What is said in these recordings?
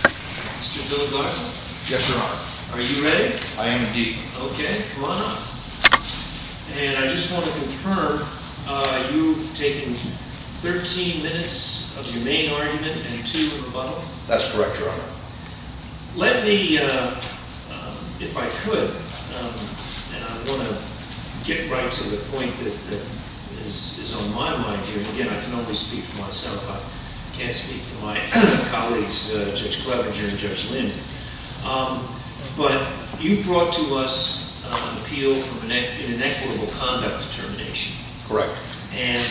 Mr. Dillard Larson. Yes, Your Honor. Are you ready? I am indeed. Okay, come on up. And I just want to confirm, you've taken 13 minutes of your main argument and two of rebuttal? That's correct, Your Honor. Let me, if I could, and I want to get right to the point that is on my mind here, and again, I can only speak for myself, I can't speak for my colleagues, Judge Clevenger and Judge Lin, but you've brought to us an appeal from an inequitable conduct determination. Correct. And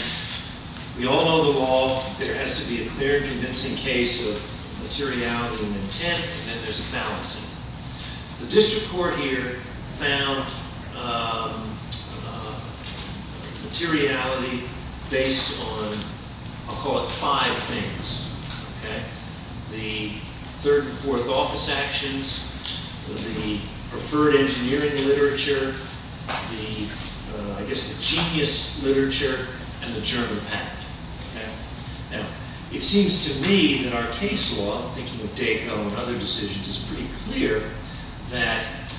we all know the law, there has to be a clear and convincing case of materiality and intent, and there's a balancing. The district court here found materiality based on, I'll call it five things, okay? The third and fourth office actions, the preferred engineering literature, the, I guess the genius literature, and the German pact. Now, it seems to me that our case law, thinking of DACO and other decisions, is pretty clear that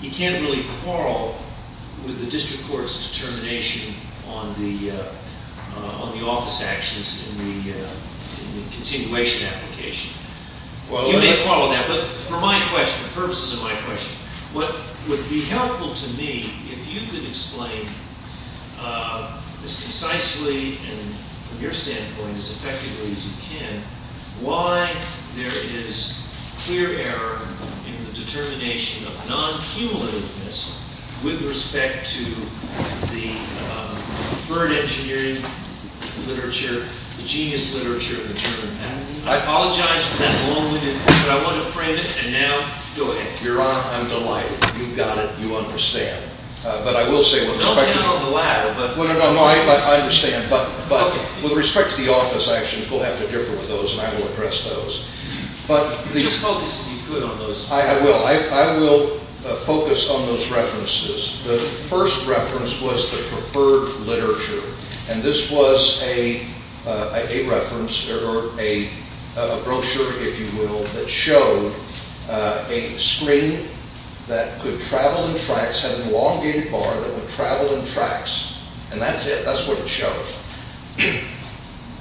you can't really quarrel with the district court's determination on the office actions in the continuation application. You may quarrel with that, but for my question, the purposes of my question, what would be helpful to me if you could explain as concisely and from your standpoint as effectively as you can, why there is clear error in the determination of non-cumulativeness with respect to the preferred engineering literature, the genius literature, and the German pact. I apologize for that long-winded, but I wasn't afraid of it, and now, go ahead. Your Honor, I'm delighted. You've got it. You understand. But I will say with respect to... Don't get on the ladder, but... No, no, no, I understand, but with respect to the office actions, we'll have to differ with those, and I will address those. But the... Just focus, if you could, on those. I will. I will focus on those references. The first reference was the preferred literature, and this was a reference or a brochure, if you will, that showed a screen that could travel in tracks, had an elongated bar that would travel in tracks, and that's it. That's what it showed.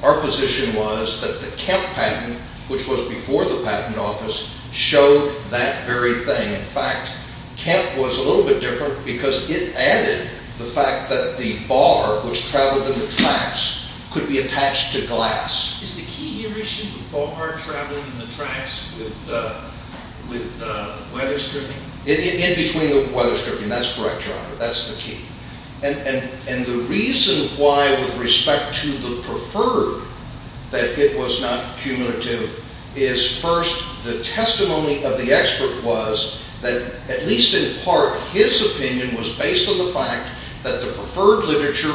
Our position was that the Kemp patent, which was before the patent office, showed that very thing. In fact, Kemp was a little bit different because it added the fact that the bar, which traveled in the tracks, could be attached to glass. Is the key here issue the bar traveling in the tracks with weatherstripping? In between the weatherstripping. That's correct, Your Honor. That's the key. And the reason why, with respect to the preferred, that it was not cumulative is, first, the testimony of the expert was that, at least in part, his opinion was based on the fact that the preferred literature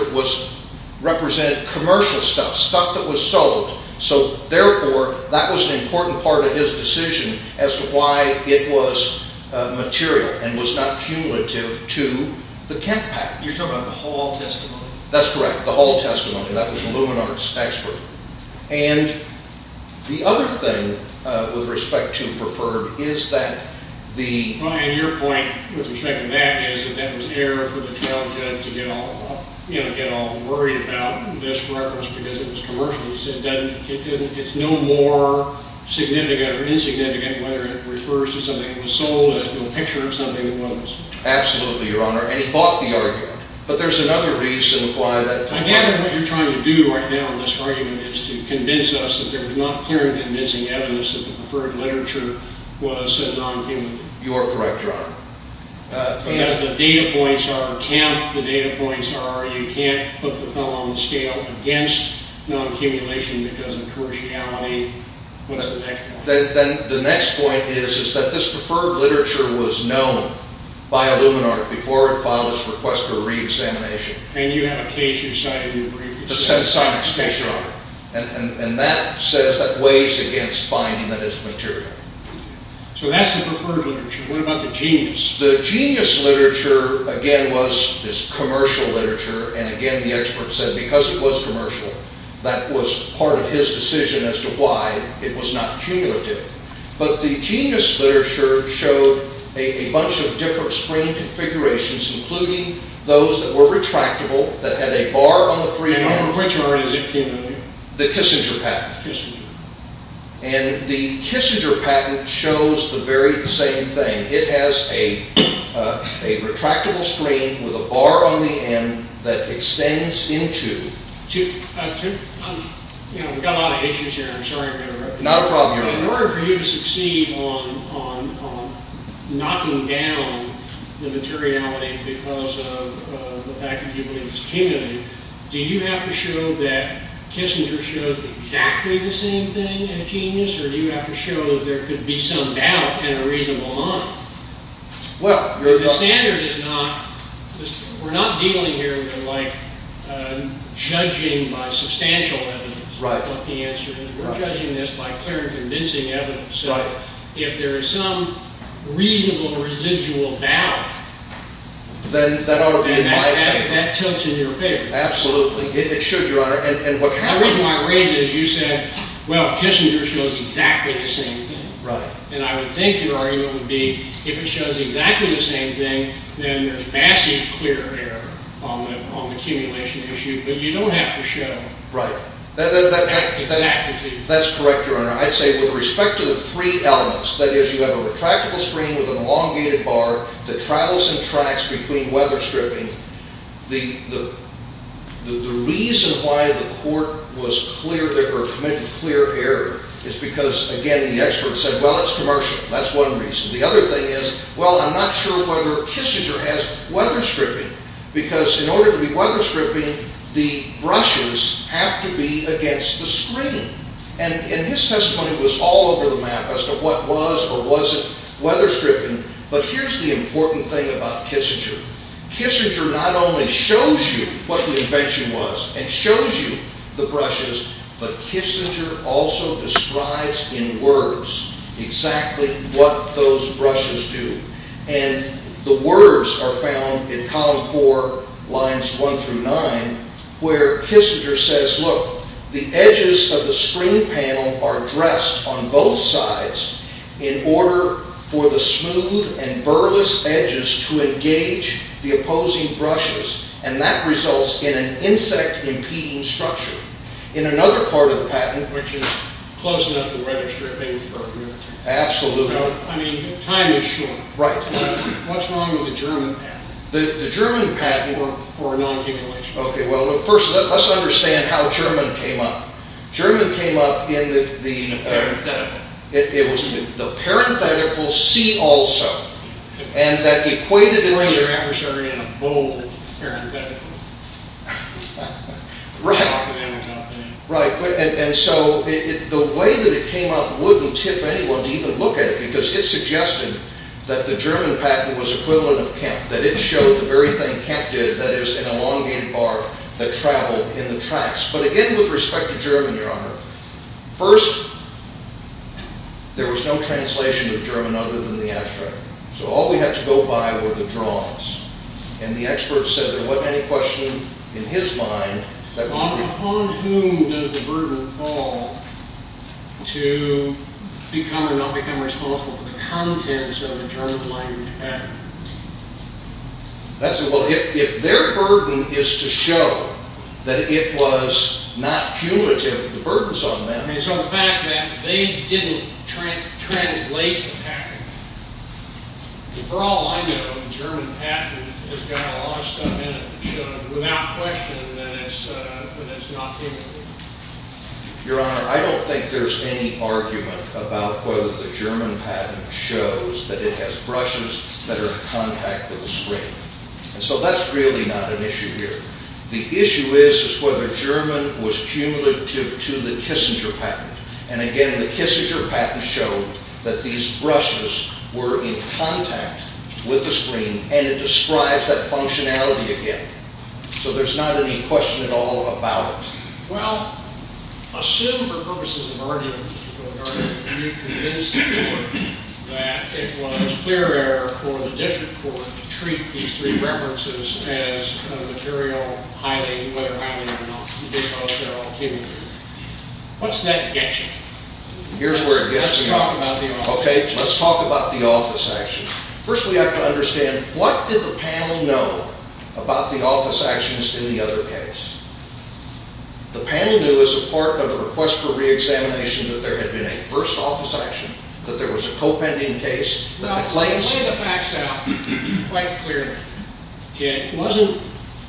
represented commercial stuff, stuff that was sold. So, therefore, that was an important part of his decision as to why it was material and was not cumulative to the Kemp patent. You're talking about the Hall testimony? That's correct, the Hall testimony. That was the Luminance expert. And the other thing, with respect to preferred, is that the... It's no more significant or insignificant whether it refers to something that was sold as to a picture of something that wasn't sold. Absolutely, Your Honor. And he bought the argument. But there's another reason why that... I gather what you're trying to do right now in this argument is to convince us that there's not clear and convincing evidence that the preferred literature was non-cumulative. You are correct, Your Honor. Because the data points are Kemp, the data points are you can't put the fellow on the scale against non-cumulation because of commerciality. What's the next point? The next point is that this preferred literature was known by IlluminArt before it filed its request for re-examination. And you had a case, you decided in your brief, that said... That's right, Your Honor. And that says, that weighs against finding that it's material. So that's the preferred literature. What about the genius? The genius literature, again, was this commercial literature. And again, the expert said, because it was commercial, that was part of his decision as to why it was not cumulative. But the genius literature showed a bunch of different screen configurations, including those that were retractable, that had a bar on the freehand... And which one is it, Your Honor? The Kissinger patent. Kissinger. And the Kissinger patent shows the very same thing. It has a retractable screen with a bar on the end that extends into... We've got a lot of issues here. I'm sorry I'm going to interrupt you. Not a problem, Your Honor. In order for you to succeed on knocking down the materiality because of the fact that you believe it's cumulative, do you have to show that Kissinger shows exactly the same thing as genius? Or do you have to show that there could be some doubt in a reasonable mind? Well, Your Honor... The standard is not... We're not dealing here with, like, judging by substantial evidence. Right. We're judging this by clear and convincing evidence. Right. So if there is some reasonable residual doubt... Then that ought to be in my favor. That tilts in your favor. Absolutely. It should, Your Honor. And what happens... The reason why I raise it is you said, well, Kissinger shows exactly the same thing. Right. And I would think your argument would be, if it shows exactly the same thing, then there's massive clear error on the accumulation issue. But you don't have to show... Right. Exactly the same. That's correct, Your Honor. I'd say, with respect to the three elements, that is, you have a retractable screen with an elongated bar that travels and tracks between weather stripping, the reason why the court was clear, or committed clear error, is because, again, the expert said, well, it's commercial. That's one reason. The other thing is, well, I'm not sure whether Kissinger has weather stripping. Because in order to be weather stripping, the brushes have to be against the screen. And his testimony was all over the map as to what was or wasn't weather stripping. But here's the important thing about Kissinger. Kissinger not only shows you what the invention was and shows you the brushes, but Kissinger also describes in words exactly what those brushes do. And the words are found in column four, lines one through nine, where Kissinger says, look, the edges of the screen panel are dressed on both sides in order for the smooth and burlesque edges to engage the opposing brushes. And that results in an insect-impeding structure. In another part of the patent... Which is closing up the weather stripping for a year or two. Absolutely. I mean, time is short. Right. What's wrong with the German patent? The German patent... For a non-human relationship. Okay, well, first, let's understand how German came up. German came up in the... The parenthetical. It was the parenthetical C also. And that equated... To your adversary in a bold parenthetical. Right. Right, and so the way that it came up wouldn't tip anyone to even look at it, because it suggested that the German patent was equivalent of Kemp, that it showed the very thing Kemp did, that is, an elongated bar that traveled in the tracks. But again, with respect to German, Your Honor, first, there was no translation of German other than the abstract. So all we had to go by were the drawings. And the expert said there wasn't any question in his mind that... Upon whom does the burden fall to become or not become responsible for the contents of a German-language patent? That's... Well, if their burden is to show that it was not punitive, the burden's on them. And so the fact that they didn't translate the patent... For all I know, the German patent has got a lot of stuff in it, so without question that it's not punitive. Your Honor, I don't think there's any argument about whether the German patent shows that it has brushes that are in contact with the screen. And so that's really not an issue here. The issue is whether German was cumulative to the Kissinger patent. And again, the Kissinger patent showed that these brushes were in contact with the screen, and it describes that functionality again. So there's not any question at all about it. Well, assume for purposes of argument, Your Honor, that you convinced the court that it was clear error for the district court to treat these three references as material highly, whether highly or not, because they're all cumulative. What's that get you? Here's where it gets me. Let's talk about the office action. Okay, let's talk about the office action. First we have to understand, what did the panel know about the office actions in the other case? The panel knew as a part of the request for reexamination that there had been a first office action, that there was a co-pending case, that the claims... Right. That's correct. That's correct. Yes. Yes. Yes, Your Honor. Yes. Correct. Okay. Correct. Because they already know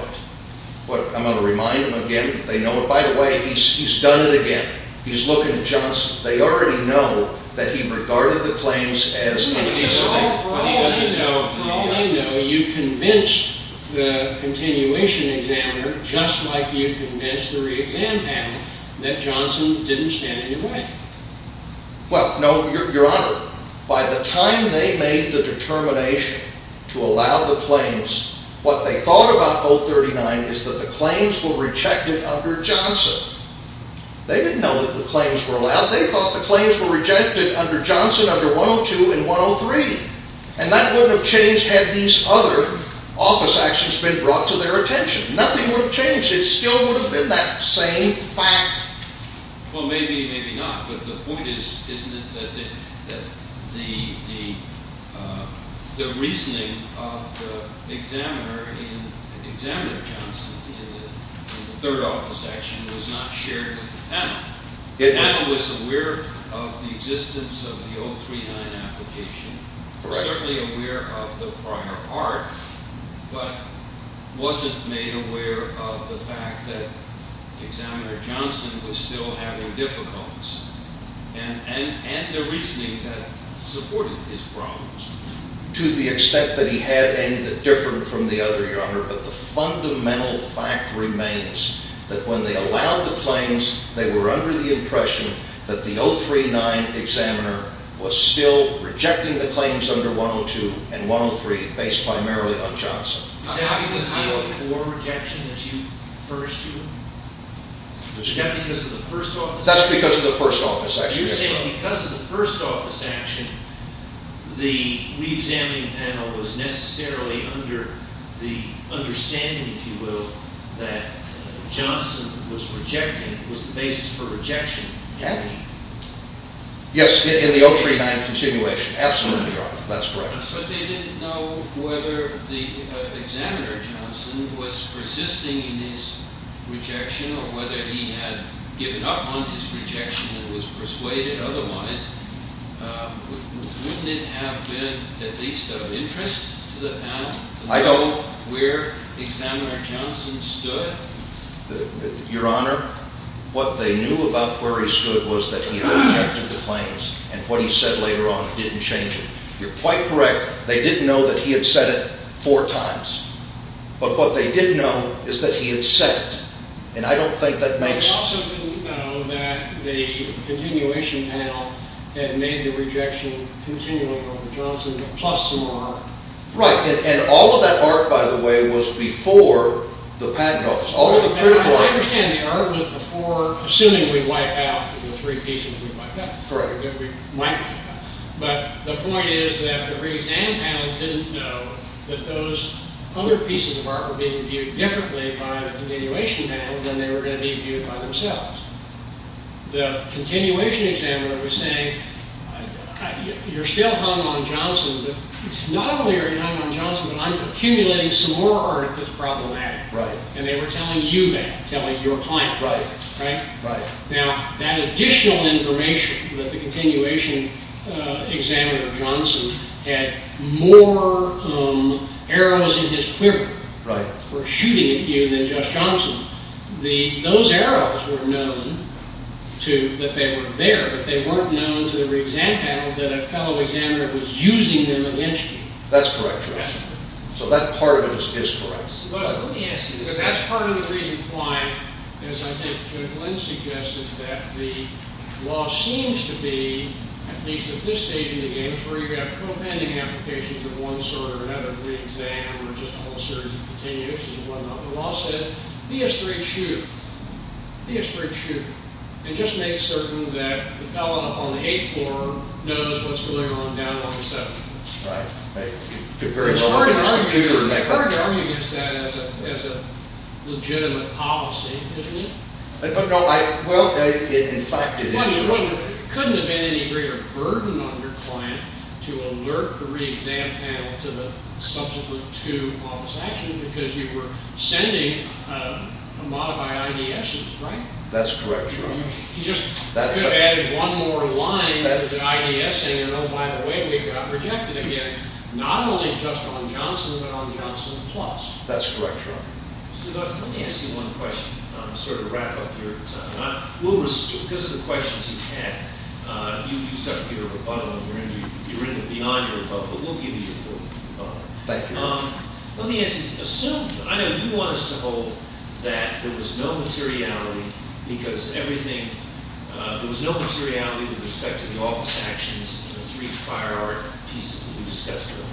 it. I'm going to remind them again, they know it. By the way, he's done it again. He's looking at Johnson. They already know that he regarded the claims as antithetical. They know you convinced the continuation examiner, just like you convinced the reexam panel, that Johnson didn't stand in your way. Well, no, Your Honor, by the time they made the determination to allow the claims, what they thought about 039 is that the claims were rejected under Johnson. They didn't know that the claims were allowed. Now, they thought the claims were rejected under Johnson, under 102 and 103. And that wouldn't have changed had these other office actions been brought to their attention. Nothing would have changed. It still would have been that same fact. Well, maybe, maybe not. But the point is, isn't it, that the reasoning of the examiner in the third office action was not shared with the panel? The panel was aware of the existence of the 039 application, certainly aware of the prior part, but wasn't made aware of the fact that examiner Johnson was still having difficulties, and the reasoning that supported his problems. To the extent that he had any that differed from the other, Your Honor, but the fundamental fact remains that when they allowed the claims, they were under the impression that the 039 examiner was still rejecting the claims under 102 and 103 based primarily on Johnson. Is that because of the 104 rejection that you referred to? Is that because of the first office action? That's because of the first office action, yes, Your Honor. So you're saying because of the first office action, the reexamining panel was necessarily under the understanding, if you will, that Johnson was rejecting was the basis for rejection? Yes, in the 039 continuation, absolutely, Your Honor. That's correct. But they didn't know whether the examiner Johnson was persisting in his rejection or whether he had given up on his rejection and was persuaded otherwise. Wouldn't it have been at least of interest to the panel to know where examiner Johnson stood? Your Honor, what they knew about where he stood was that he had rejected the claims and what he said later on didn't change it. You're quite correct. They didn't know that he had said it four times. But what they did know is that he had said it. And I don't think that makes They also didn't know that the continuation panel had made the rejection continual for Johnson plus some more art. Right. And all of that art, by the way, was before the patent office. I understand the art was before assuming we wipe out the three pieces we wiped out. Correct. But the point is that the reexamining panel didn't know that those other pieces of art were being viewed differently by the continuation panel than they were going to be viewed by themselves. The continuation examiner was saying, you're still hung on Johnson. It's not only are you hung on Johnson, but I'm accumulating some more art that's problematic. Right. And they were telling you that, telling your client. Right. Right? Right. Now, that additional information that the continuation examiner Johnson had more arrows in his quiver for shooting at you than just Johnson, those arrows were known that they were there, but they weren't known to the reexamine panel that a fellow examiner was using them against you. That's correct. So that part of it is correct. Let me ask you this question. That's part of the reason why, as I think Judge Lynn suggested, that the law seems to be, at least at this stage in the game, where you're going to have co-pending applications of one sort or another reexam or just a whole series of continuations and whatnot. The law said, be a straight shooter. Be a straight shooter. And just make certain that the fellow on the 8th floor knows what's going on down on the 7th floor. Right. It's hard to argue against that as a legitimate policy, isn't it? Well, in fact, it is. It couldn't have been any greater a burden on your client to alert the reexam panel to the subsequent two office actions because you were sending modified IDSs, right? That's correct, Your Honor. You just could have added one more line to the IDS saying, oh, by the way, we got rejected again, not only just on Johnson but on Johnson Plus. That's correct, Your Honor. Mr. Guzman, let me ask you one question to sort of wrap up your time. Because of the questions you've had, you've stuck to your bottom. You're in the beyond or above, but we'll give you the above. Thank you. Let me ask you, assume, I know you want us to hold that there was no materiality because everything, there was no materiality with respect to the office actions in the three prior pieces that we discussed today.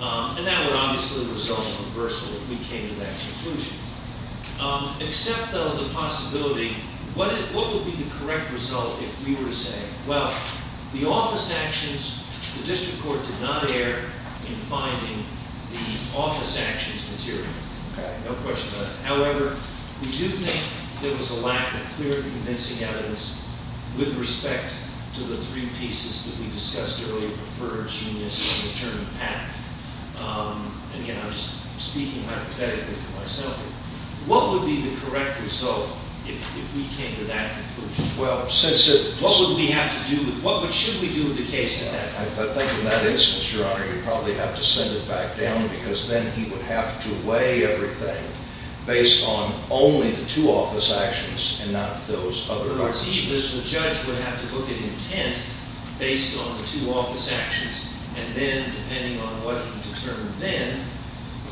And that would obviously result in reversal if we came to that conclusion. Except, though, the possibility, what would be the correct result if we were to say, well, the office actions, the district court did not err in finding the office actions material. Okay. No question about it. However, we do think there was a lack of clear, convincing evidence with respect to the three pieces that we discussed earlier, preferred, genius, and the term act. And, again, I'm just speaking hypothetically for myself here. What would be the correct result if we came to that conclusion? Well, since it's- What would we have to do with, what should we do with the case at that point? I think in that instance, Your Honor, you'd probably have to send it back down because then he would have to weigh everything based on only the two office actions and not those other- Because he, as the judge, would have to look at intent based on the two office actions and then, depending on what he determined then,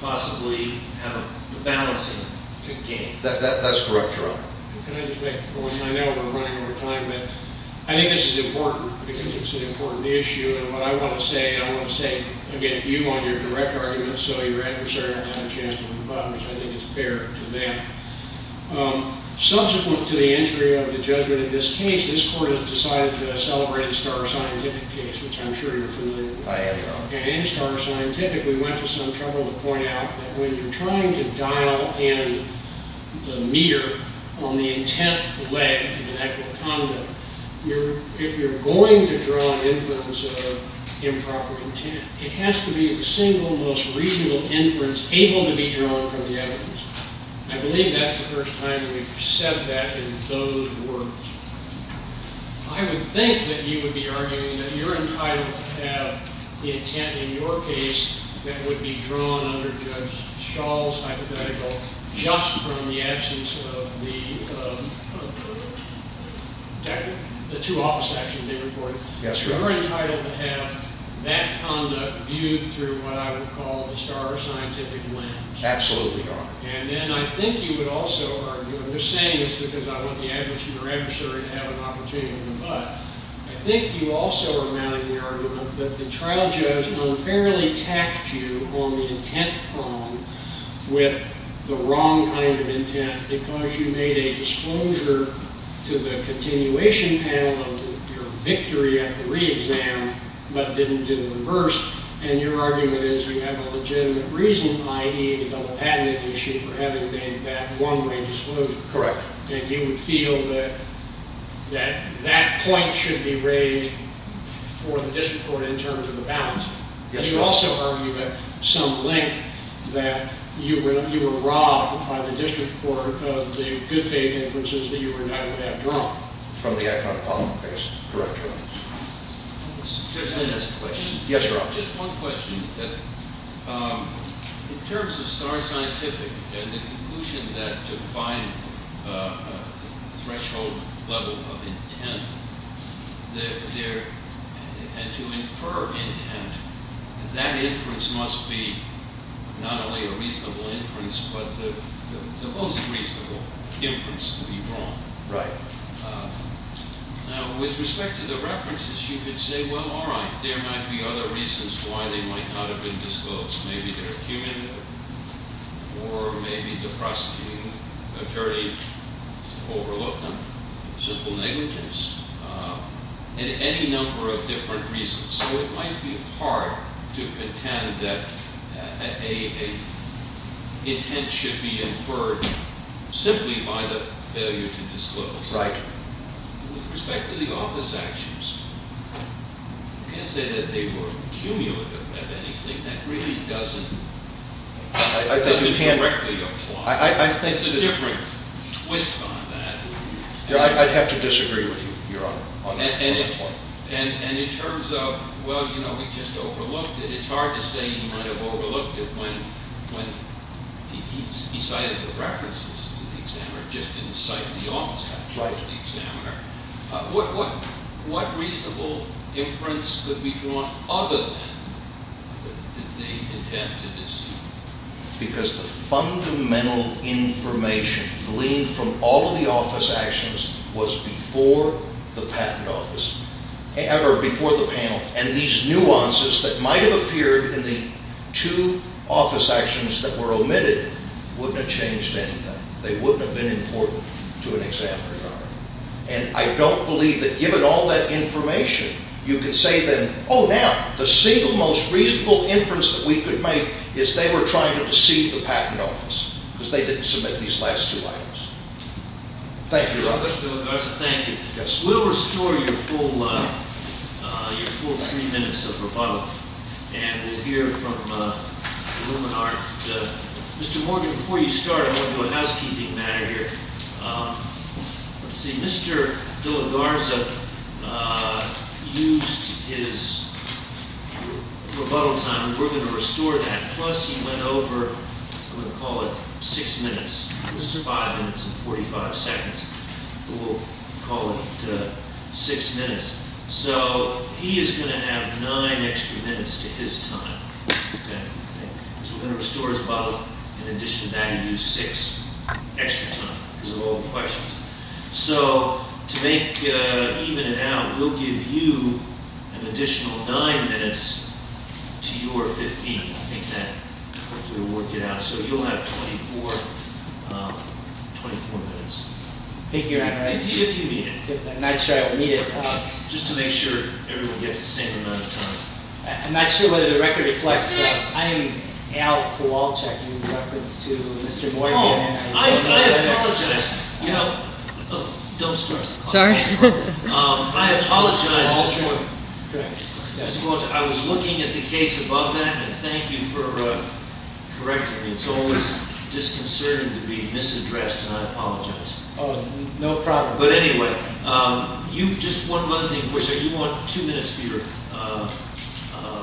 possibly have a balancing game. That's correct, Your Honor. Can I just make a point? I know we're running out of time, but I think this is important because it's an important issue. And what I want to say, I want to say against you on your direct argument, so your adversary will have a chance to win the battle because I think it's fair to them. Subsequent to the entry of the judgment in this case, this Court has decided to celebrate a star scientific case, which I'm sure you're familiar with. I am, Your Honor. And star scientific. We went to some trouble to point out that when you're trying to dial in the meter on the intent leg of an equitable conduct, if you're going to draw inference of improper intent, it has to be a single, most reasonable inference able to be drawn from the evidence. I believe that's the first time we've said that in those words. I would think that you would be arguing that you're entitled to have the intent in your case that would be drawn under Judge Schall's hypothetical just from the absence of the two office actions they reported. Yes, Your Honor. You're entitled to have that conduct viewed through what I would call the star scientific lens. Absolutely, Your Honor. And then I think you would also argue, I'm just saying this because I want the adversary to have an opportunity to win, but I think you also are mounting the argument that the trial judge unfairly taxed you on the intent prong with the wrong kind of intent because you made a disclosure to the continuation panel of your victory at the re-exam but didn't reverse. And your argument is you have a legitimate reason, i.e., the double patent issue for having made that one-way disclosure. Correct. And you would feel that that point should be raised for the district court in terms of the balance. Yes, Your Honor. And you also argue at some length that you were robbed by the district court of the good faith inferences that you were not allowed to have drawn. From the economic column, I guess, correctly. Yes, Your Honor. Just one question. In terms of star scientific and the conclusion that to find a threshold level of intent and to infer intent, that inference must be not only a reasonable inference but the most reasonable inference to be wrong. Right. Now, with respect to the references, you could say, well, all right. There might be other reasons why they might not have been disclosed. Maybe they're human or maybe the prosecuting attorney overlooked them, simple negligence, and any number of different reasons. So it might be hard to contend that an intent should be inferred simply by the failure to disclose. Right. With respect to the office actions, you can't say that they were cumulative of anything. That really doesn't directly apply. It's a different twist on that. I'd have to disagree with you, Your Honor, on that point. And in terms of, well, you know, we just overlooked it. It's hard to say you might have overlooked it when he cited the references to cite the office actions. Right. The examiner. What reasonable inference could be drawn other than the intent to deceive? Because the fundamental information gleaned from all of the office actions was before the patent office or before the panel. And these nuances that might have appeared in the two office actions that were omitted wouldn't have changed anything. They wouldn't have been important to an examiner, Your Honor. And I don't believe that given all that information, you can say then, oh, now, the single most reasonable inference that we could make is they were trying to deceive the patent office because they didn't submit these last two items. Thank you, Your Honor. Thank you. Yes. We'll restore your full three minutes of rebuttal. And we'll hear from the Illuminati. Mr. Morgan, before you start, I'm going to do a housekeeping matter here. Let's see. Mr. De La Garza used his rebuttal time. We're going to restore that. Plus he went over, I'm going to call it six minutes. This is five minutes and 45 seconds. But we'll call it six minutes. So he is going to have nine extra minutes to his time. So we're going to restore his rebuttal. In addition to that, he used six extra time. Those are all questions. So to make even it out, we'll give you an additional nine minutes to your 15. I think that will work it out. So you'll have 24 minutes. Thank you, Your Honor. If you need it. I'm not sure I will need it. Just to make sure everyone gets the same amount of time. I'm not sure whether the record reflects. I am Al Kowalczyk in reference to Mr. Morgan. Oh, I apologize. You know, don't start. Sorry. I apologize, Mr. Morgan. Correct. Mr. Kowalczyk, I was looking at the case above that, and thank you for correcting me. It's always disconcerting to be misaddressed, and I apologize. Oh, no problem. But anyway, just one other thing for you, sir. You want two minutes for your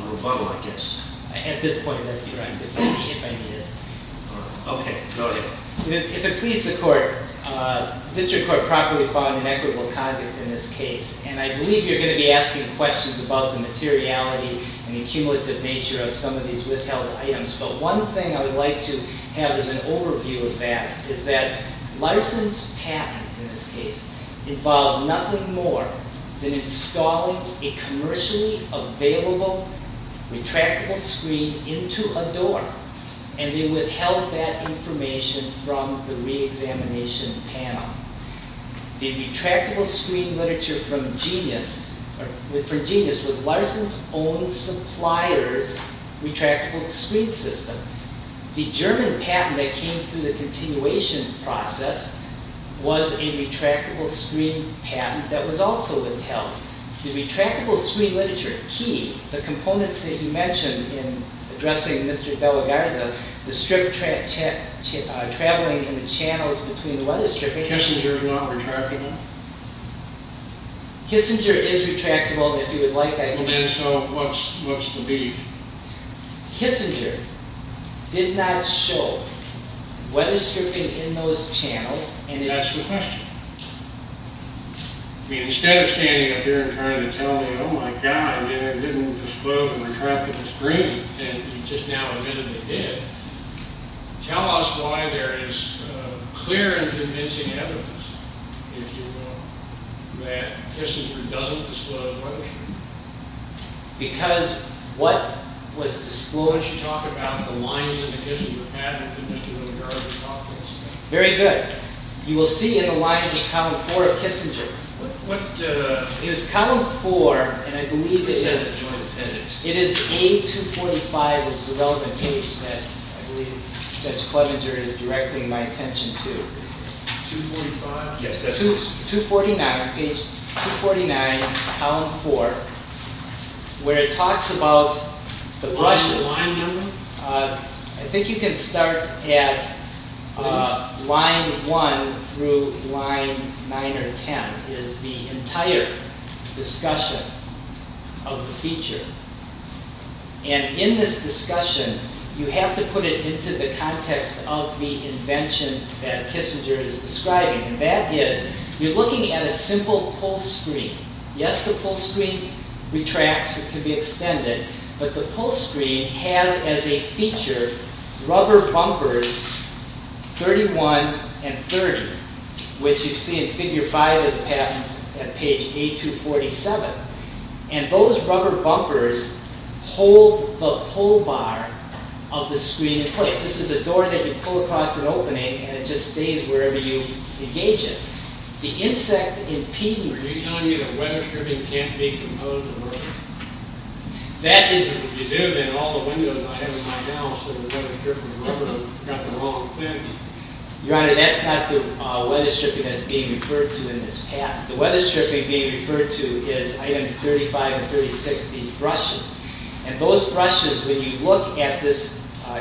rebuttal, I guess. At this point, let's be direct. If I need it. All right. Okay, go ahead. If it pleases the court, the district court properly found an equitable conduct in this case, and I believe you're going to be asking questions about the materiality and the accumulative nature of some of these withheld items. But one thing I would like to have as an overview of that is that Larson's patent, in this case, involved nothing more than installing a commercially available retractable screen into a door, and they withheld that information from the reexamination panel. The retractable screen literature from Genius was Larson's own supplier's retractable screen system. The German patent that came through the continuation process was a retractable screen patent that was also withheld. The retractable screen literature key, the components that you mentioned in addressing Mr. Della Garza, the strip traveling in the channels between the weatherstripping— Kissinger is not retractable? Kissinger is retractable, and if you would like that— Well, then, so what's the beef? Kissinger did not show weatherstripping in those channels, and it— That's the question. I mean, instead of standing up here and trying to tell me, I mean, I didn't disclose the retractable screen, and you just now admittedly did. Tell us why there is clear and convincing evidence, if you will, that Kissinger doesn't disclose weatherstripping. Because what was disclosed— You should talk about the lines in the Kissinger patent that Mr. Della Garza talked about. Very good. You will see in the lines of column four of Kissinger. What— It was column four, and I believe it is— This has a joint appendix. It is A245. This is a relevant page that I believe Judge Klobinger is directing my attention to. 245? Yes, that's what it is. Page 249, column four, where it talks about the brushes. Line number? I think you can start at line one through line nine or ten is the entire discussion of the feature. And in this discussion, you have to put it into the context of the invention that Kissinger is describing. And that is, you're looking at a simple pull screen. Yes, the pull screen retracts. It can be extended. But the pull screen has as a feature rubber bumpers 31 and 30, which you see in figure five of the patent at page A247. And those rubber bumpers hold the pull bar of the screen in place. This is a door that you pull across an opening, and it just stays wherever you engage it. The insect impedance— Are you telling me that weatherstripping can't be proposed to work? That is— You do, but in all the windows I have in my house, the weatherstripping rubber got the wrong thing. Your Honor, that's not the weatherstripping that's being referred to in this path. The weatherstripping being referred to is items 35 and 36, these brushes. And those brushes, when you look at this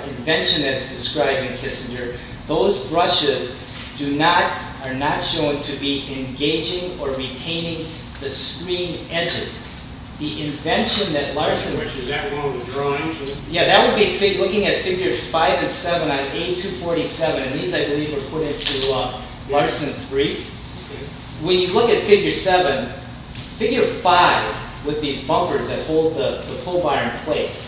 invention that's described in Kissinger, those brushes are not shown to be engaging or retaining the screen edges. The invention that Larson— Is that one of the drawings? Yeah, that would be looking at figures five and seven on A247. And these, I believe, were put into Larson's brief. When you look at figure seven, figure five with these bumpers that hold the pull bar in place,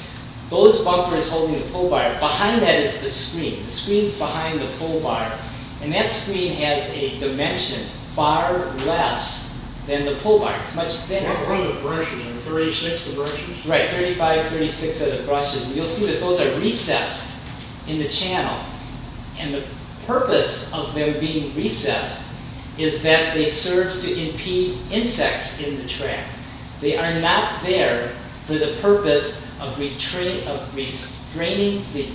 those bumpers holding the pull bar, behind that is the screen. The screen's behind the pull bar. And that screen has a dimension far less than the pull bar. It's much thinner. What are the brushes? Are there 36 of the brushes? Right, 35, 36 are the brushes. You'll see that those are recessed in the channel. And the purpose of them being recessed is that they serve to impede insects in the track. They are not there for the purpose of restraining the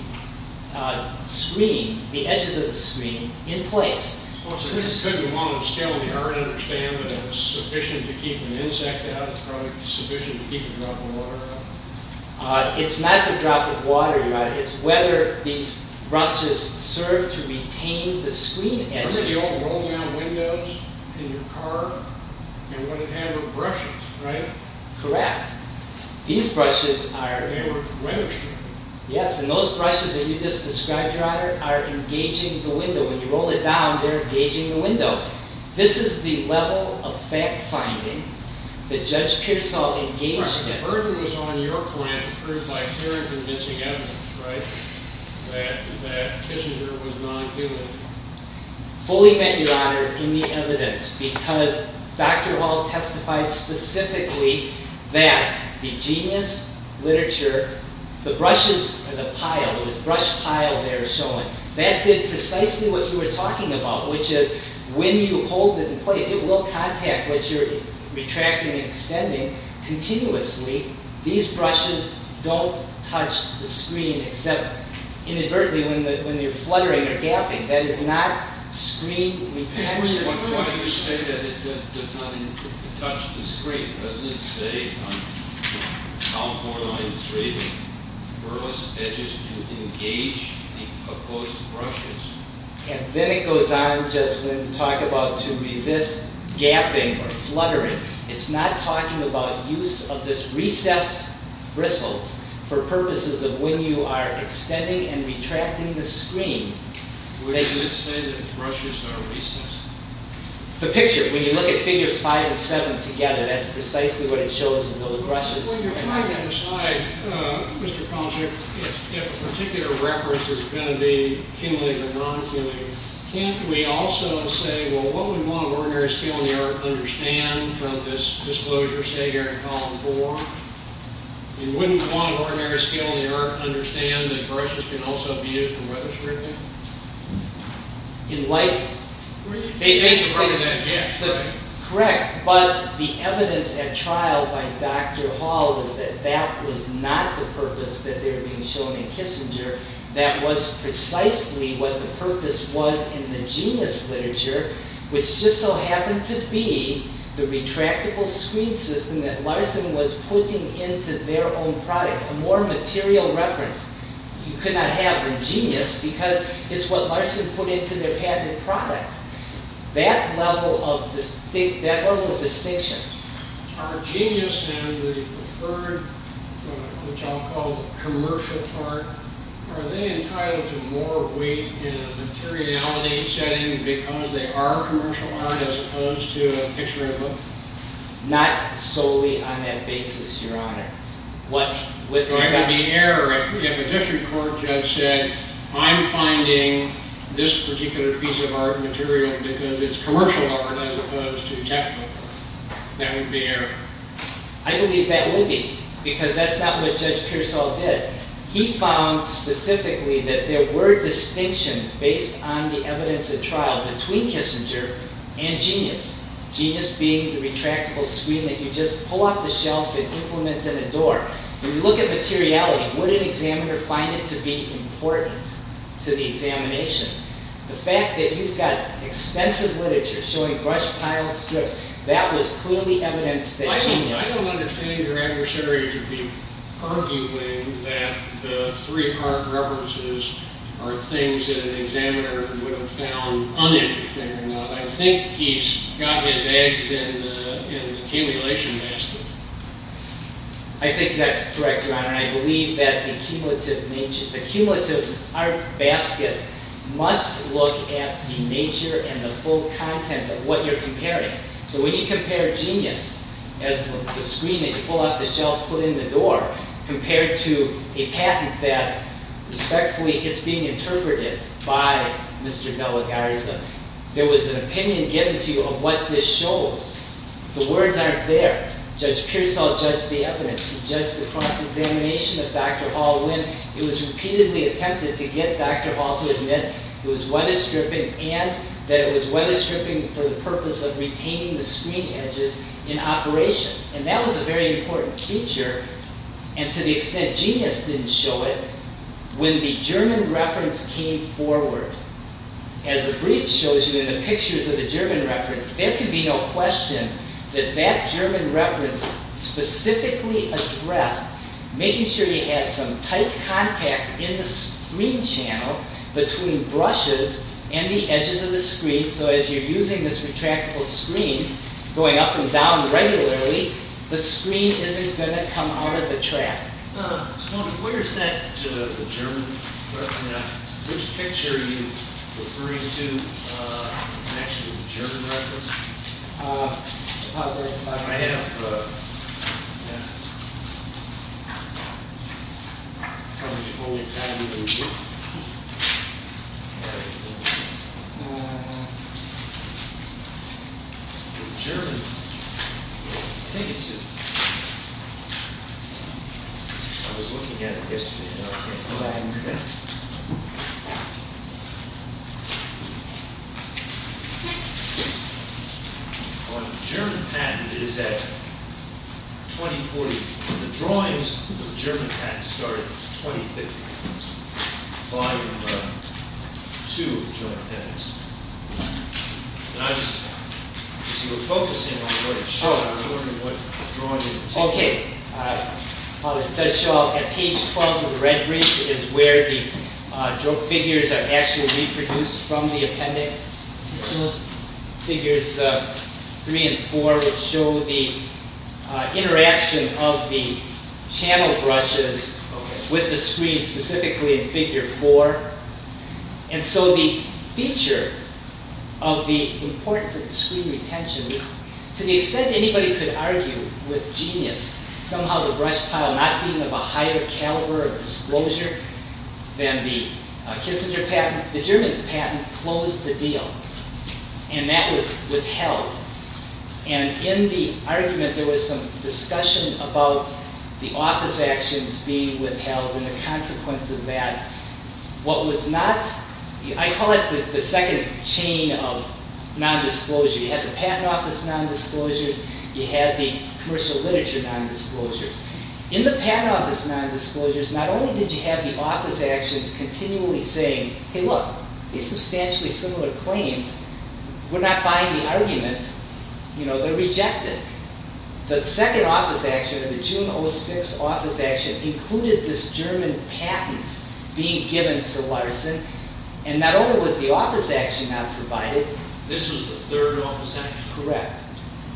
screen, the edges of the screen, in place. So this could be one of scaling the art understanding of sufficient to keep an insect out of the track, sufficient to keep a drop of water out of the track. It's not the drop of water, your honor. It's whether these brushes serve to retain the screen edges. Remember the old roll-down windows in your car? And what it had were brushes, right? Correct. These brushes are— They were for brushing. Yes, and those brushes that you just described, your honor, are engaging the window. When you roll it down, they're engaging the window. This is the level of fact-finding that Judge Pearsall engaged in. Right. I've heard that it was on your plan to prove by fair and convincing evidence, right, that Kissinger was not doing it. Fully met, your honor, in the evidence. Because Dr. Wall testified specifically that the genius literature, the brushes and the pile, this brush pile there showing, that did precisely what you were talking about, which is when you hold it in place, it will contact what you're retracting and extending. Continuously, these brushes don't touch the screen except inadvertently when you're fluttering or gapping. That is not screen retention. I'm just wondering why you say that it does not touch the screen. Doesn't it say on column 493, the burlesque edge is to engage the proposed brushes? And then it goes on, Judge Lynn, to talk about to resist gapping or fluttering. It's not talking about use of this recessed bristles for purposes of when you are extending and retracting the screen. Would it say that the brushes are recessed? The picture, when you look at figures 5 and 7 together, that's precisely what it shows in the brushes. Well, you're right on the side, Mr. Project. If a particular reference is going to be cumulative or non-cumulative, can't we also say, well, what would one of ordinary skill in the art understand from this disclosure, say, here in column 4? Wouldn't one of ordinary skill in the art understand that brushes can also be used for weather-stripping? In what? They should probably not get flipping. Correct, but the evidence at trial by Dr. Hall was that that was not the purpose that they were being shown in Kissinger. That was precisely what the purpose was in the genius literature, which just so happened to be the retractable screen system that Larson was putting into their own product, a more material reference. You could not have a genius because it's what Larson put into their patented product. That level of distinction. Are genius and the preferred, which I'll call commercial art, are they entitled to more weight in a materiality setting because they are commercial art as opposed to a picture-in-a-book? Not solely on that basis, Your Honor. I believe that would be error if a district court judge said, I'm finding this particular piece of art material because it's commercial art as opposed to technical. That would be error. I believe that would be, because that's not what Judge Pearsall did. He found specifically that there were distinctions based on the evidence at trial between Kissinger and genius. Genius being the retractable screen that you just pull off the shelf and implement in a door. When you look at materiality, would an examiner find it to be important to the examination? The fact that you've got extensive literature showing brush piles, strips, that was clearly evidence that genius. I don't understand your aggressory to be arguing that the three art references are things that an examiner would have found uninteresting. I think he's got his eggs in the accumulation basket. I think that's correct, Your Honor. I believe that the cumulative art basket must look at the nature and the full content of what you're comparing. So when you compare genius as the screen that you pull off the shelf, put in the door, compared to a patent that respectfully is being interpreted by Mr. De La Garza, there was an opinion given to you of what this shows. The words aren't there. Judge Pearsall judged the evidence. He judged the cross-examination of Dr. Hall when it was repeatedly attempted to get Dr. Hall to admit it was weatherstripping and that it was weatherstripping for the purpose of retaining the screen edges in operation. And that was a very important feature. And to the extent genius didn't show it, when the German reference came forward, as the brief shows you in the pictures of the German reference, there could be no question that that German reference specifically addressed making sure you had some tight contact in the screen channel between brushes and the edges of the screen so as you're using this retractable screen, going up and down regularly, the screen isn't going to come out of the track. So where's that German reference now? Which picture are you referring to next to the German reference? I have... The German... I think it's... I was looking at it yesterday. On the German patent, it is at 2040. The drawings of the German patent started at 2050. By the two German patents. And I just... You see, we're focusing on what it showed. I was wondering what drawing you were taking. Okay. As I showed, at page 12 of the red brief is where the figures are actually reproduced from the appendix. Figures 3 and 4, which show the interaction of the channel brushes with the screen, specifically in figure 4. And so the feature of the importance of screen retention is, to the extent anybody could argue with genius, somehow the brush pile not being of a higher caliber of disclosure than the Kissinger patent, the German patent closed the deal. And that was withheld. And in the argument, there was some discussion about the office actions being withheld and the consequence of that. What was not... I call it the second chain of non-disclosure. You have the patent office non-disclosures, you have the commercial literature non-disclosures. In the patent office non-disclosures, not only did you have the office actions continually saying, hey look, these substantially similar claims, we're not buying the argument, they're rejected. The second office action, the June 06 office action, included this German patent being given to Larson. And not only was the office action not provided, This was the third office action? Correct.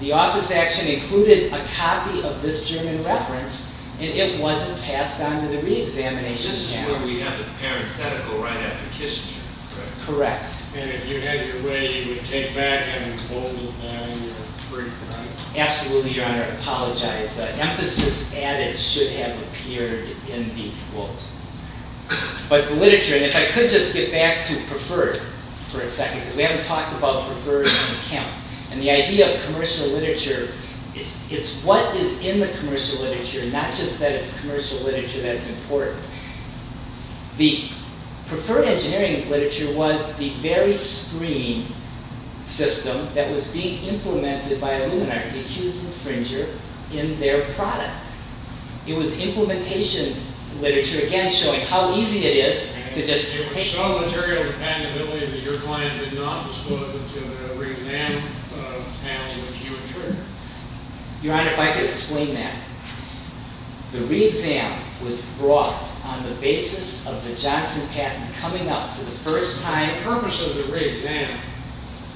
The office action included a copy of this German reference, and it wasn't passed on to the re-examination panel. This is where we have the parenthetical right after Kissinger, correct? Correct. And if you had your way, you would take back, I mean, quote, unquote, Absolutely, Your Honor, I apologize. Emphasis added should have appeared in the quote. But the literature, and if I could just get back to preferred for a second, because we haven't talked about preferred on the count, and the idea of commercial literature, it's what is in the commercial literature, not just that it's commercial literature that's important. The preferred engineering literature was the very screen system that was being implemented by Illuminati to accuse the infringer in their product. It was implementation literature, again, showing how easy it is to just take that your client did not disclose it to the re-exam panel, which you were triggered. Your Honor, if I could explain that. The re-exam was brought on the basis of the Johnson patent coming up for the first time. The purpose of the re-exam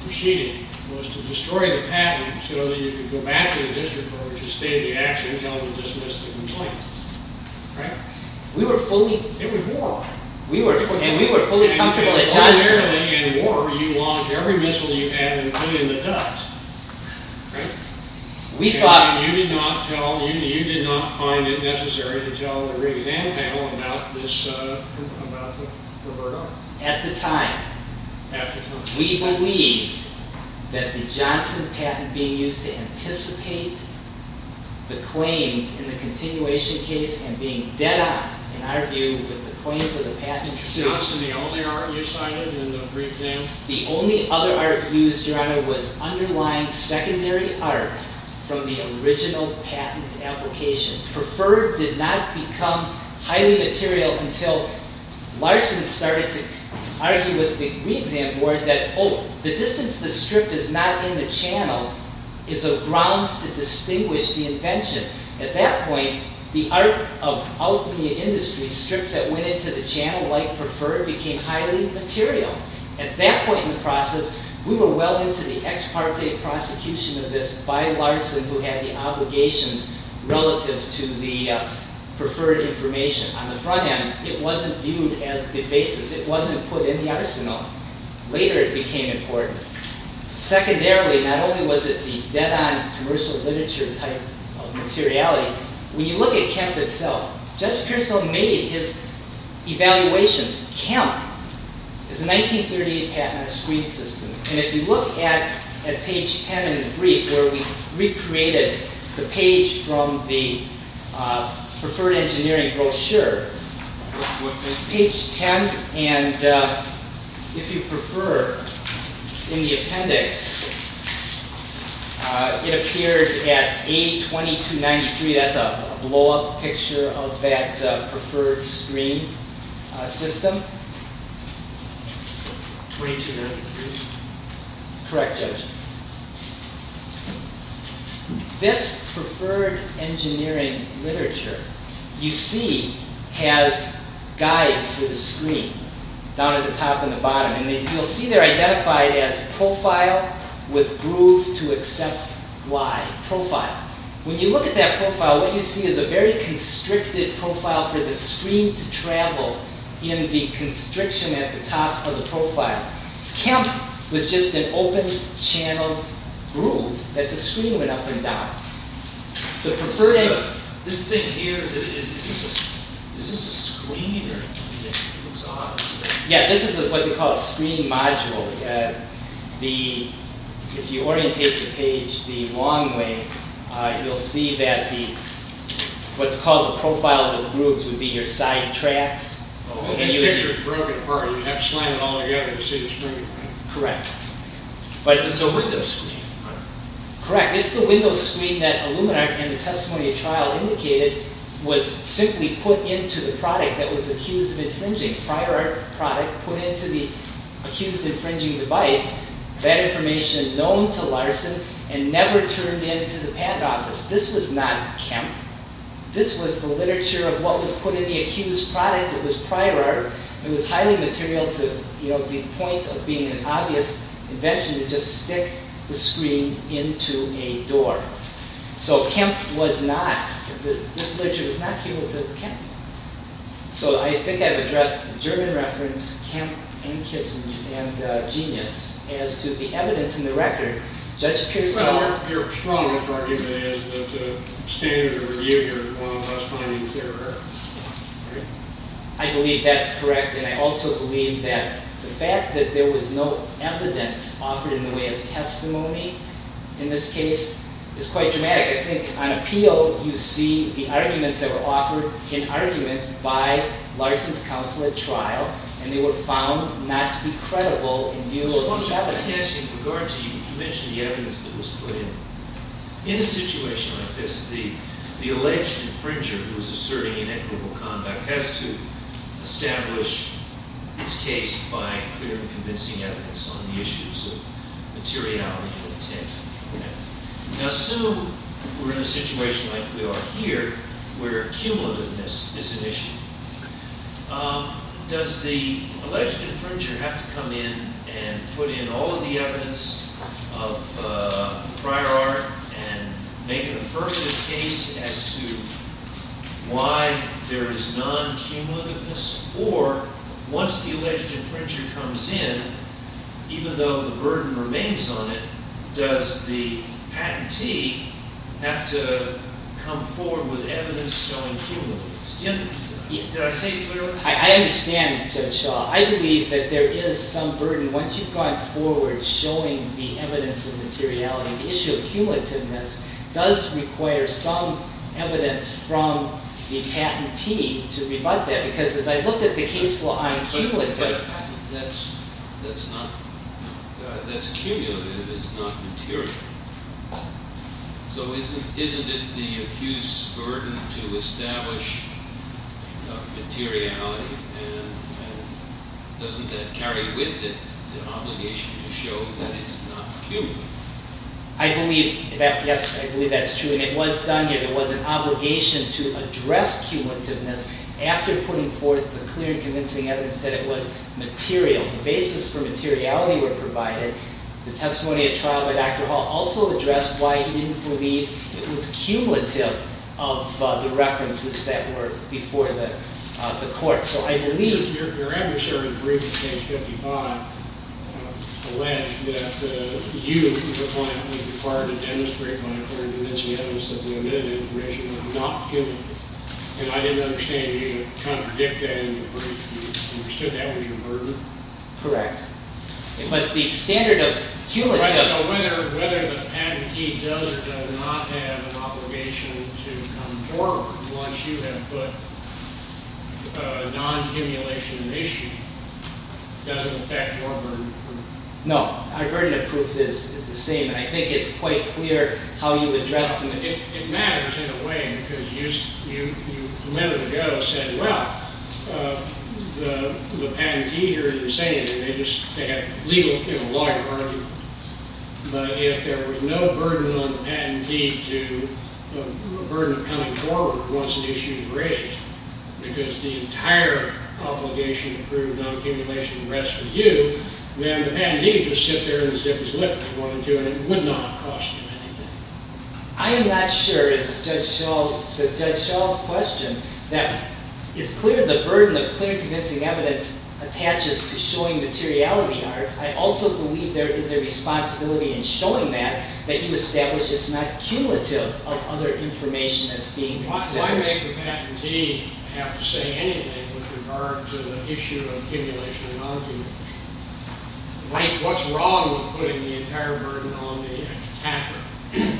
proceeding was to destroy the patent so that you could go back to the district court to state the actions on the dismissal complaint. Correct? We were fully It was war. And we were fully comfortable that Johnson Primarily in war, you launch every missile you have, including the dust. Right? We thought You did not find it necessary to tell the re-exam panel about the preferred on. At the time. At the time. We believed that the Johnson patent being used to anticipate the claims in the continuation case and being dead on, in our view, with the claims of the patent suit Was Johnson the only art you cited in the brief game? The only other art used, Your Honor, was underlying secondary art from the original patent application. Preferred did not become highly material until Larson started to argue with the re-exam board that, oh, the distance the strip is not in the channel is a grounds to distinguish the invention. At that point, the art of alchemy and industry strips that went into the channel, like preferred, became highly material. At that point in the process, we were well into the ex parte prosecution of this by Larson, who had the obligations relative to the preferred information. On the front end, it wasn't viewed as the basis. It wasn't put in the arsenal. Later, it became important. Secondarily, not only was it the dead-on commercial literature type of materiality, when you look at Kemp itself, Judge Pearsall made his evaluations. Kemp is a 1938 patent on a screen system. And if you look at page 10 in the brief, where we recreated the page from the preferred engineering brochure, with page 10 and, if you prefer, in the appendix, it appears at A2293. That's a blow-up picture of that preferred screen system. Correct, Judge. This preferred engineering literature, you see, has guides for the screen, down at the top and the bottom. You'll see they're identified as profile with groove to accept Y. Profile. When you look at that profile, what you see is a very constricted profile for the screen to travel in the constriction at the top of the profile. Kemp was just an open-channeled groove that the screen went up and down. This thing here, is this a screen? Yeah, this is what we call a screen module. If you orientate the page the long way, you'll see that what's called a profile with grooves would be your side tracks. This picture is broken apart. You have to slide it all together to see the screen. Correct. It's a window screen. Correct. It's the window screen that Illuminar and the testimony of trial indicated was simply put into the product that was accused of infringing. Prior art product put into the accused infringing device. That information known to Larson and never turned into the patent office. This was not Kemp. This was the literature of what was put in the accused product. It was prior art. It was highly material to the point of being an obvious invention to just stick the screen into a door. So Kemp was not, this literature was not keyword to Kemp. So I think I've addressed the German reference, Kemp and Kissinger and Genius, as to the evidence in the record. Judge Pierson. Your strong argument is that standard review here is one of us finding clearer. I believe that's correct. And I also believe that the fact that there was no evidence offered in the way of testimony in this case is quite dramatic. I think on appeal you see the arguments that were offered in argument by Larson's counsel at trial, and they were found not to be credible in view of the evidence. Suppose I ask in regard to you, you mentioned the evidence that was put in. In a situation like this, the alleged infringer who is asserting inequitable conduct has to establish its case by clear and convincing evidence on the issues of materiality and intent. Now, assume we're in a situation like we are here where cumulativeness is an issue. Does the alleged infringer have to come in and put in all of the evidence of prior art and make an affirmative case as to why there is non-cumulativeness? Or once the alleged infringer comes in, even though the burden remains on it, does the patentee have to come forward with evidence showing cumulativeness? Did I say it clearly? I understand, Judge Shaw. I believe that there is some burden once you've gone forward showing the evidence of materiality. The issue of cumulativeness does require some evidence from the patentee to rebut that. Because as I looked at the case law, I am cumulative. But that's cumulative. It's not material. So isn't it the accused's burden to establish materiality? And doesn't that carry with it the obligation to show that it's not cumulative? I believe that, yes, I believe that's true. And it was done. It was an obligation to address cumulativeness after putting forth the clear, convincing evidence that it was material. The basis for materiality were provided. The testimony at trial by Dr. Hall also addressed why he didn't believe it was cumulative of the references that were before the court. So I believe your adversary's brief in Case 55 alleged that you, the client, was required to demonstrate by a clear, convincing evidence that the omitted information was not cumulative. And I didn't understand you trying to predict that in the brief. You understood that was your burden? Correct. But the standard of cumulative So whether the patentee does or does not have an obligation to come forward once you have put non-cumulation at issue, does it affect your burden? No. Our burden of proof is the same. And I think it's quite clear how you address them. It matters in a way because you, a minute ago, said, well, the patentee here, they just had a legal argument. But if there was no burden on the patentee, the burden of coming forward once an issue was raised, because the entire obligation to prove non-cumulation rests with you, then the patentee can just sit there and zip his lip if he wanted to, and it would not cost him anything. I am not sure, to Judge Schall's question, that it's clear the burden of clear, convincing evidence attaches to showing materiality, Art. I also believe there is a responsibility in showing that, that you establish it's not cumulative of other information that's being considered. Why make the patentee have to say anything with regard to the issue of cumulation and non-cumulation? What's wrong with putting the entire burden on the attacker? You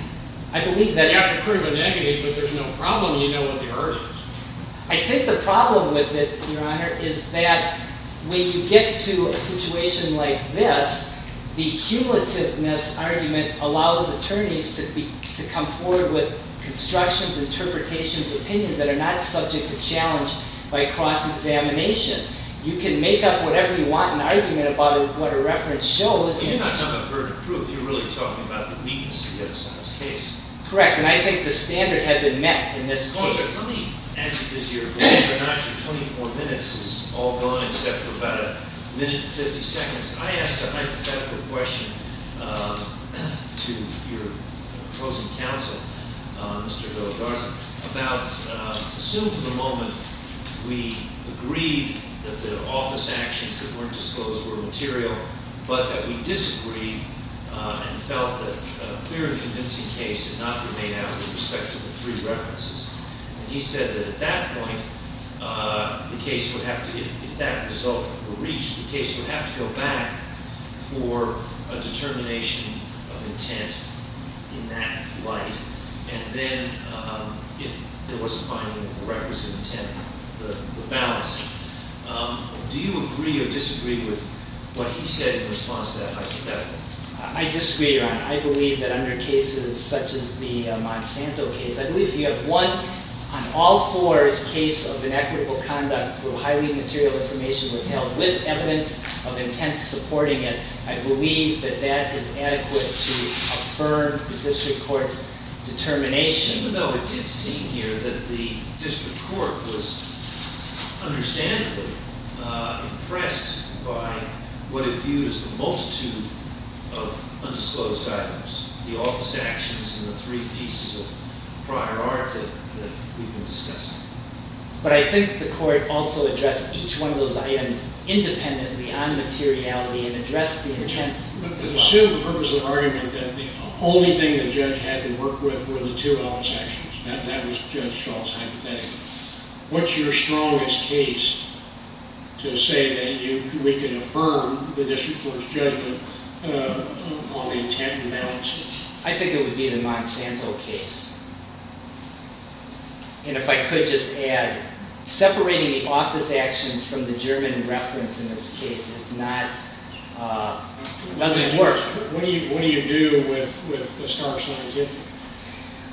have to prove a negative, but there's no problem if you know what the error is. I think the problem with it, Your Honor, is that when you get to a situation like this, the cumulativeness argument allows attorneys to come forward with constructions, interpretations, opinions that are not subject to challenge by cross-examination. You can make up whatever you want in an argument about what a reference shows. You're not talking about burden of proof. You're really talking about the weakness of the other side's case. Correct, and I think the standard had been met in this case. Let me ask you this, Your Honor. Whether or not your 24 minutes is all gone except for about a minute and 50 seconds, I asked a hypothetical question to your opposing counsel, Mr. Bill Garza, about, assume for the moment we agreed that the office actions that weren't disclosed were material, but that we disagreed and felt that a clearly convincing case had not been made out with respect to the three references. He said that at that point, the case would have to, if that result were reached, the case would have to go back for a determination of intent in that light, and then if there was a finding of the requisite intent, the balance. Do you agree or disagree with what he said in response to that hypothetical? I disagree, Your Honor. I believe that under cases such as the Monsanto case, I believe if you have one, on all fours, case of inequitable conduct through highly material information withheld with evidence of intent supporting it, I believe that that is adequate to affirm the district court's determination. It's a shame, though, it did seem here that the district court was understandably impressed by what it viewed as the multitude of undisclosed items, the office actions and the three pieces of prior art that we've been discussing. But I think the court also addressed each one of those items independently on materiality and addressed the intent. I assume the purpose of the argument that the only thing the judge had to work with were the two balance actions. That was Judge Schall's hypothetical. What's your strongest case to say that we can affirm the district court's judgment on the intent and balance? I think it would be the Monsanto case. And if I could just add, separating the office actions from the German reference in this case doesn't work. What do you do with the stark scientific?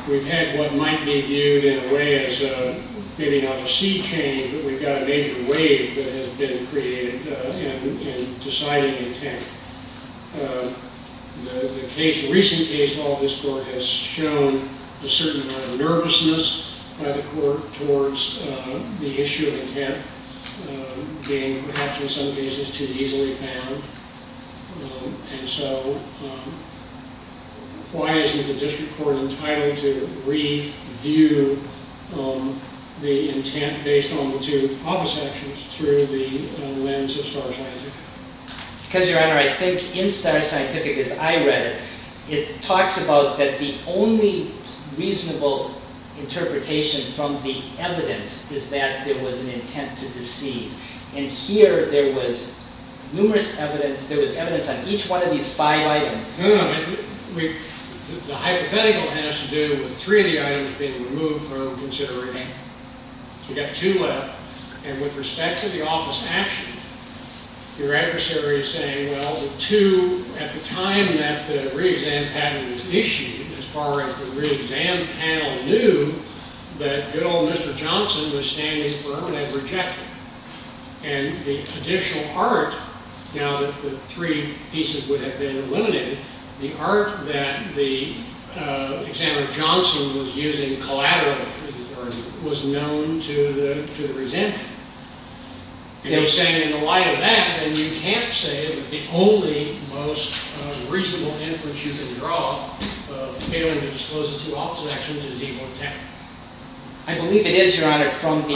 We've had what might be viewed in a way as maybe not a sea change, but we've got a major wave that has been created in deciding intent. The recent case law of this court has shown a certain amount of nervousness by the court towards the issue of intent, being perhaps in some cases too easily found. And so why isn't the district court entitled to review the intent based on the two office actions through the lens of stark scientific? Because, Your Honor, I think in stark scientific, as I read it, it talks about that the only reasonable interpretation from the evidence is that there was an intent to deceive. And here there was numerous evidence. There was evidence on each one of these five items. No, no. The hypothetical has to do with three of the items being removed from consideration. We've got two left. And with respect to the office action, your adversary is saying, well, the two at the time that the re-exam patent was issued, as far as the re-exam panel knew, that good old Mr. Johnson was standing firm and had rejected it. And the additional art, now that the three pieces would have been eliminated, the art that the examiner Johnson was using collaterally was known to the resentment. You know, saying in the light of that, then you can't say that the only most reasonable inference you can draw of failing to disclose the two office actions is evil intent. I believe it is, Your Honor, from the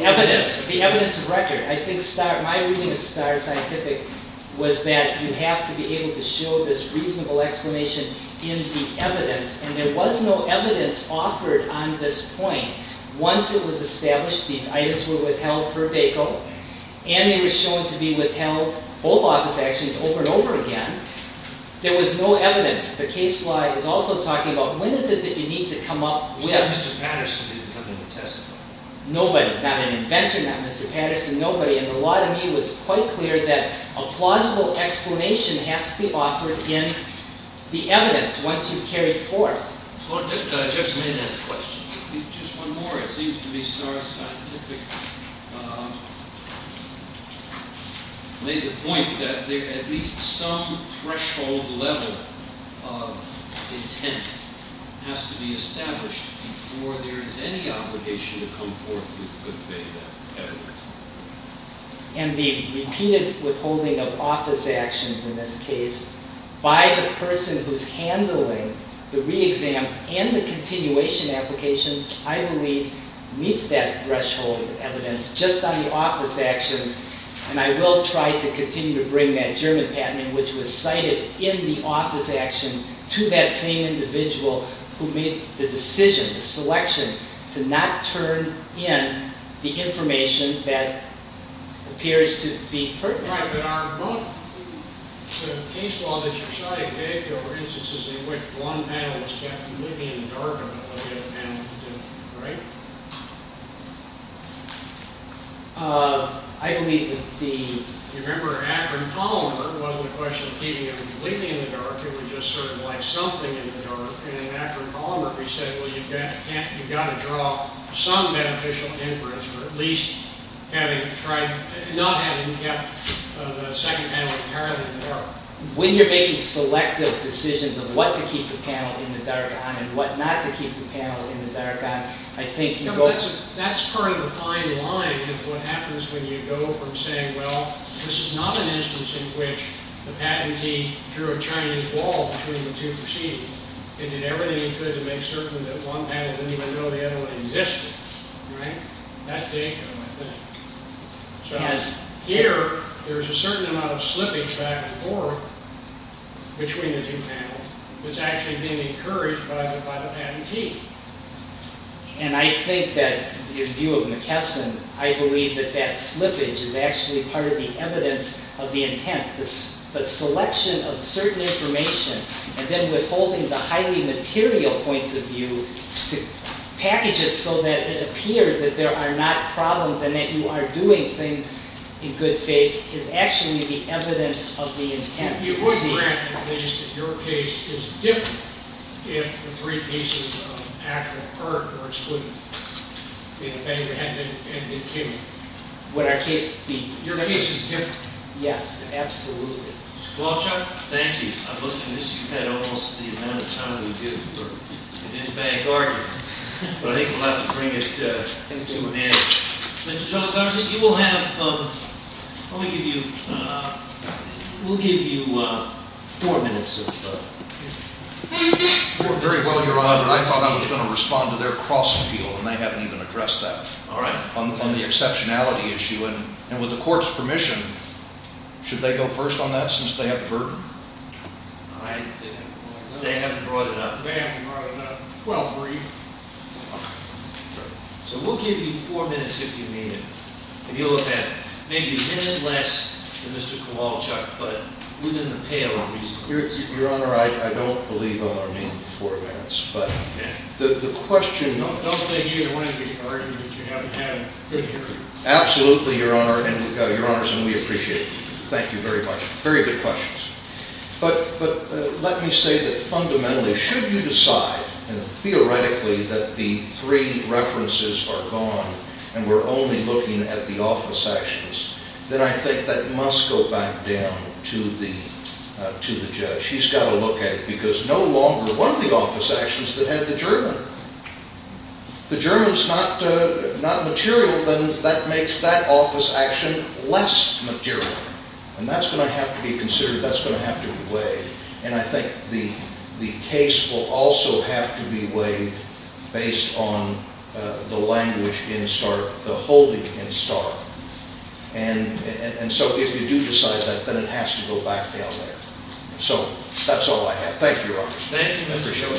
evidence, the evidence of record. I think my reading of stark scientific was that you have to be able to show this reasonable explanation in the evidence. And there was no evidence offered on this point. Once it was established these items were withheld per deco, and they were shown to be withheld, both office actions, over and over again, there was no evidence. The case law is also talking about when is it that you need to come up with... Nobody. Not an inventor, not Mr. Patterson, nobody. And the law to me was quite clear that a plausible explanation has to be offered in the evidence once you've carried forth. Judge Maynard has a question. Just one more. It seems to me stark scientific made the point that at least some threshold level of intent has to be established before there is any obligation to come forth with good faith evidence. And the repeated withholding of office actions in this case, by the person who's handling the re-exam and the continuation applications, I believe meets that threshold of evidence just on the office actions. And I will try to continue to bring that German patent, which was cited in the office action, to that same individual who made the decision, the selection, to not turn in the information that appears to be pertinent. The case law that you're trying to take, for instance, is in which one panel was kept completely in the dark about what the other panel was doing, right? I believe that the... Remember Akron Palmer was the question of keeping everything completely in the dark. It was just sort of like something in the dark. And Akron Palmer said, well, you've got to draw some beneficial inference for at least not having kept the second panel entirely in the dark. When you're making selective decisions of what to keep the panel in the dark on and what not to keep the panel in the dark on, I think you go... That's part of the fine line is what happens when you go from saying, well, this is not an instance in which the patentee drew a Chinese ball between the two proceedings and did everything he could to make certain that one panel didn't even know the other one existed. Right? That day, I think. So here, there's a certain amount of slippage back and forth between the two panels. It's actually being encouraged by the patentee. And I think that, in view of McKesson, I believe that that slippage is actually part of the evidence of the intent. The selection of certain information and then withholding the highly material points of view to package it so that it appears that there are not problems and that you are doing things in good faith is actually the evidence of the intent. You would grant the case that your case is different if the three cases of Acker, Perk, or Excluder had been given. Would our case be different? Your case is different. Yes, absolutely. Mr. Qualtrough. Thank you. I've looked at this. You've had almost the amount of time we do for an in-bag argument. But I think we'll have to bring it to an end. Mr. John Garza, you will have... Let me give you... We'll give you four minutes of... Very well, Your Honor. I thought I was going to respond to their cross-appeal, and they haven't even addressed that. All right. On the exceptionality issue. And with the court's permission, should they go first on that since they have the burden? All right. They haven't brought it up. They haven't brought it up. Well, brief. All right. So we'll give you four minutes if you need it. And you'll have had maybe a minute less than Mr. Kowalchuk, but within the pale of reason. Your Honor, I don't believe all our main four minutes. But the question... Don't they hear you're wanting to be heard and that you haven't had a... Absolutely, Your Honor. Your Honors, and we appreciate you. Thank you very much. Very good questions. But let me say that fundamentally, should you decide theoretically that the three references are gone and we're only looking at the office actions, then I think that must go back down to the judge. He's got to look at it because no longer one of the office actions that had the German. If the German's not material, then that makes that office action less material. And that's going to have to be considered. That's going to have to be weighed. And I think the case will also have to be weighed based on the language in START, the holding in START. And so if you do decide that, then it has to go back down there. So that's all I have. Thank you, Your Honor. Thank you, Mr. Schiller.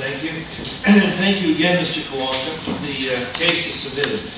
Thank you. Thank you again, Mr. Kowalka. The case is submitted.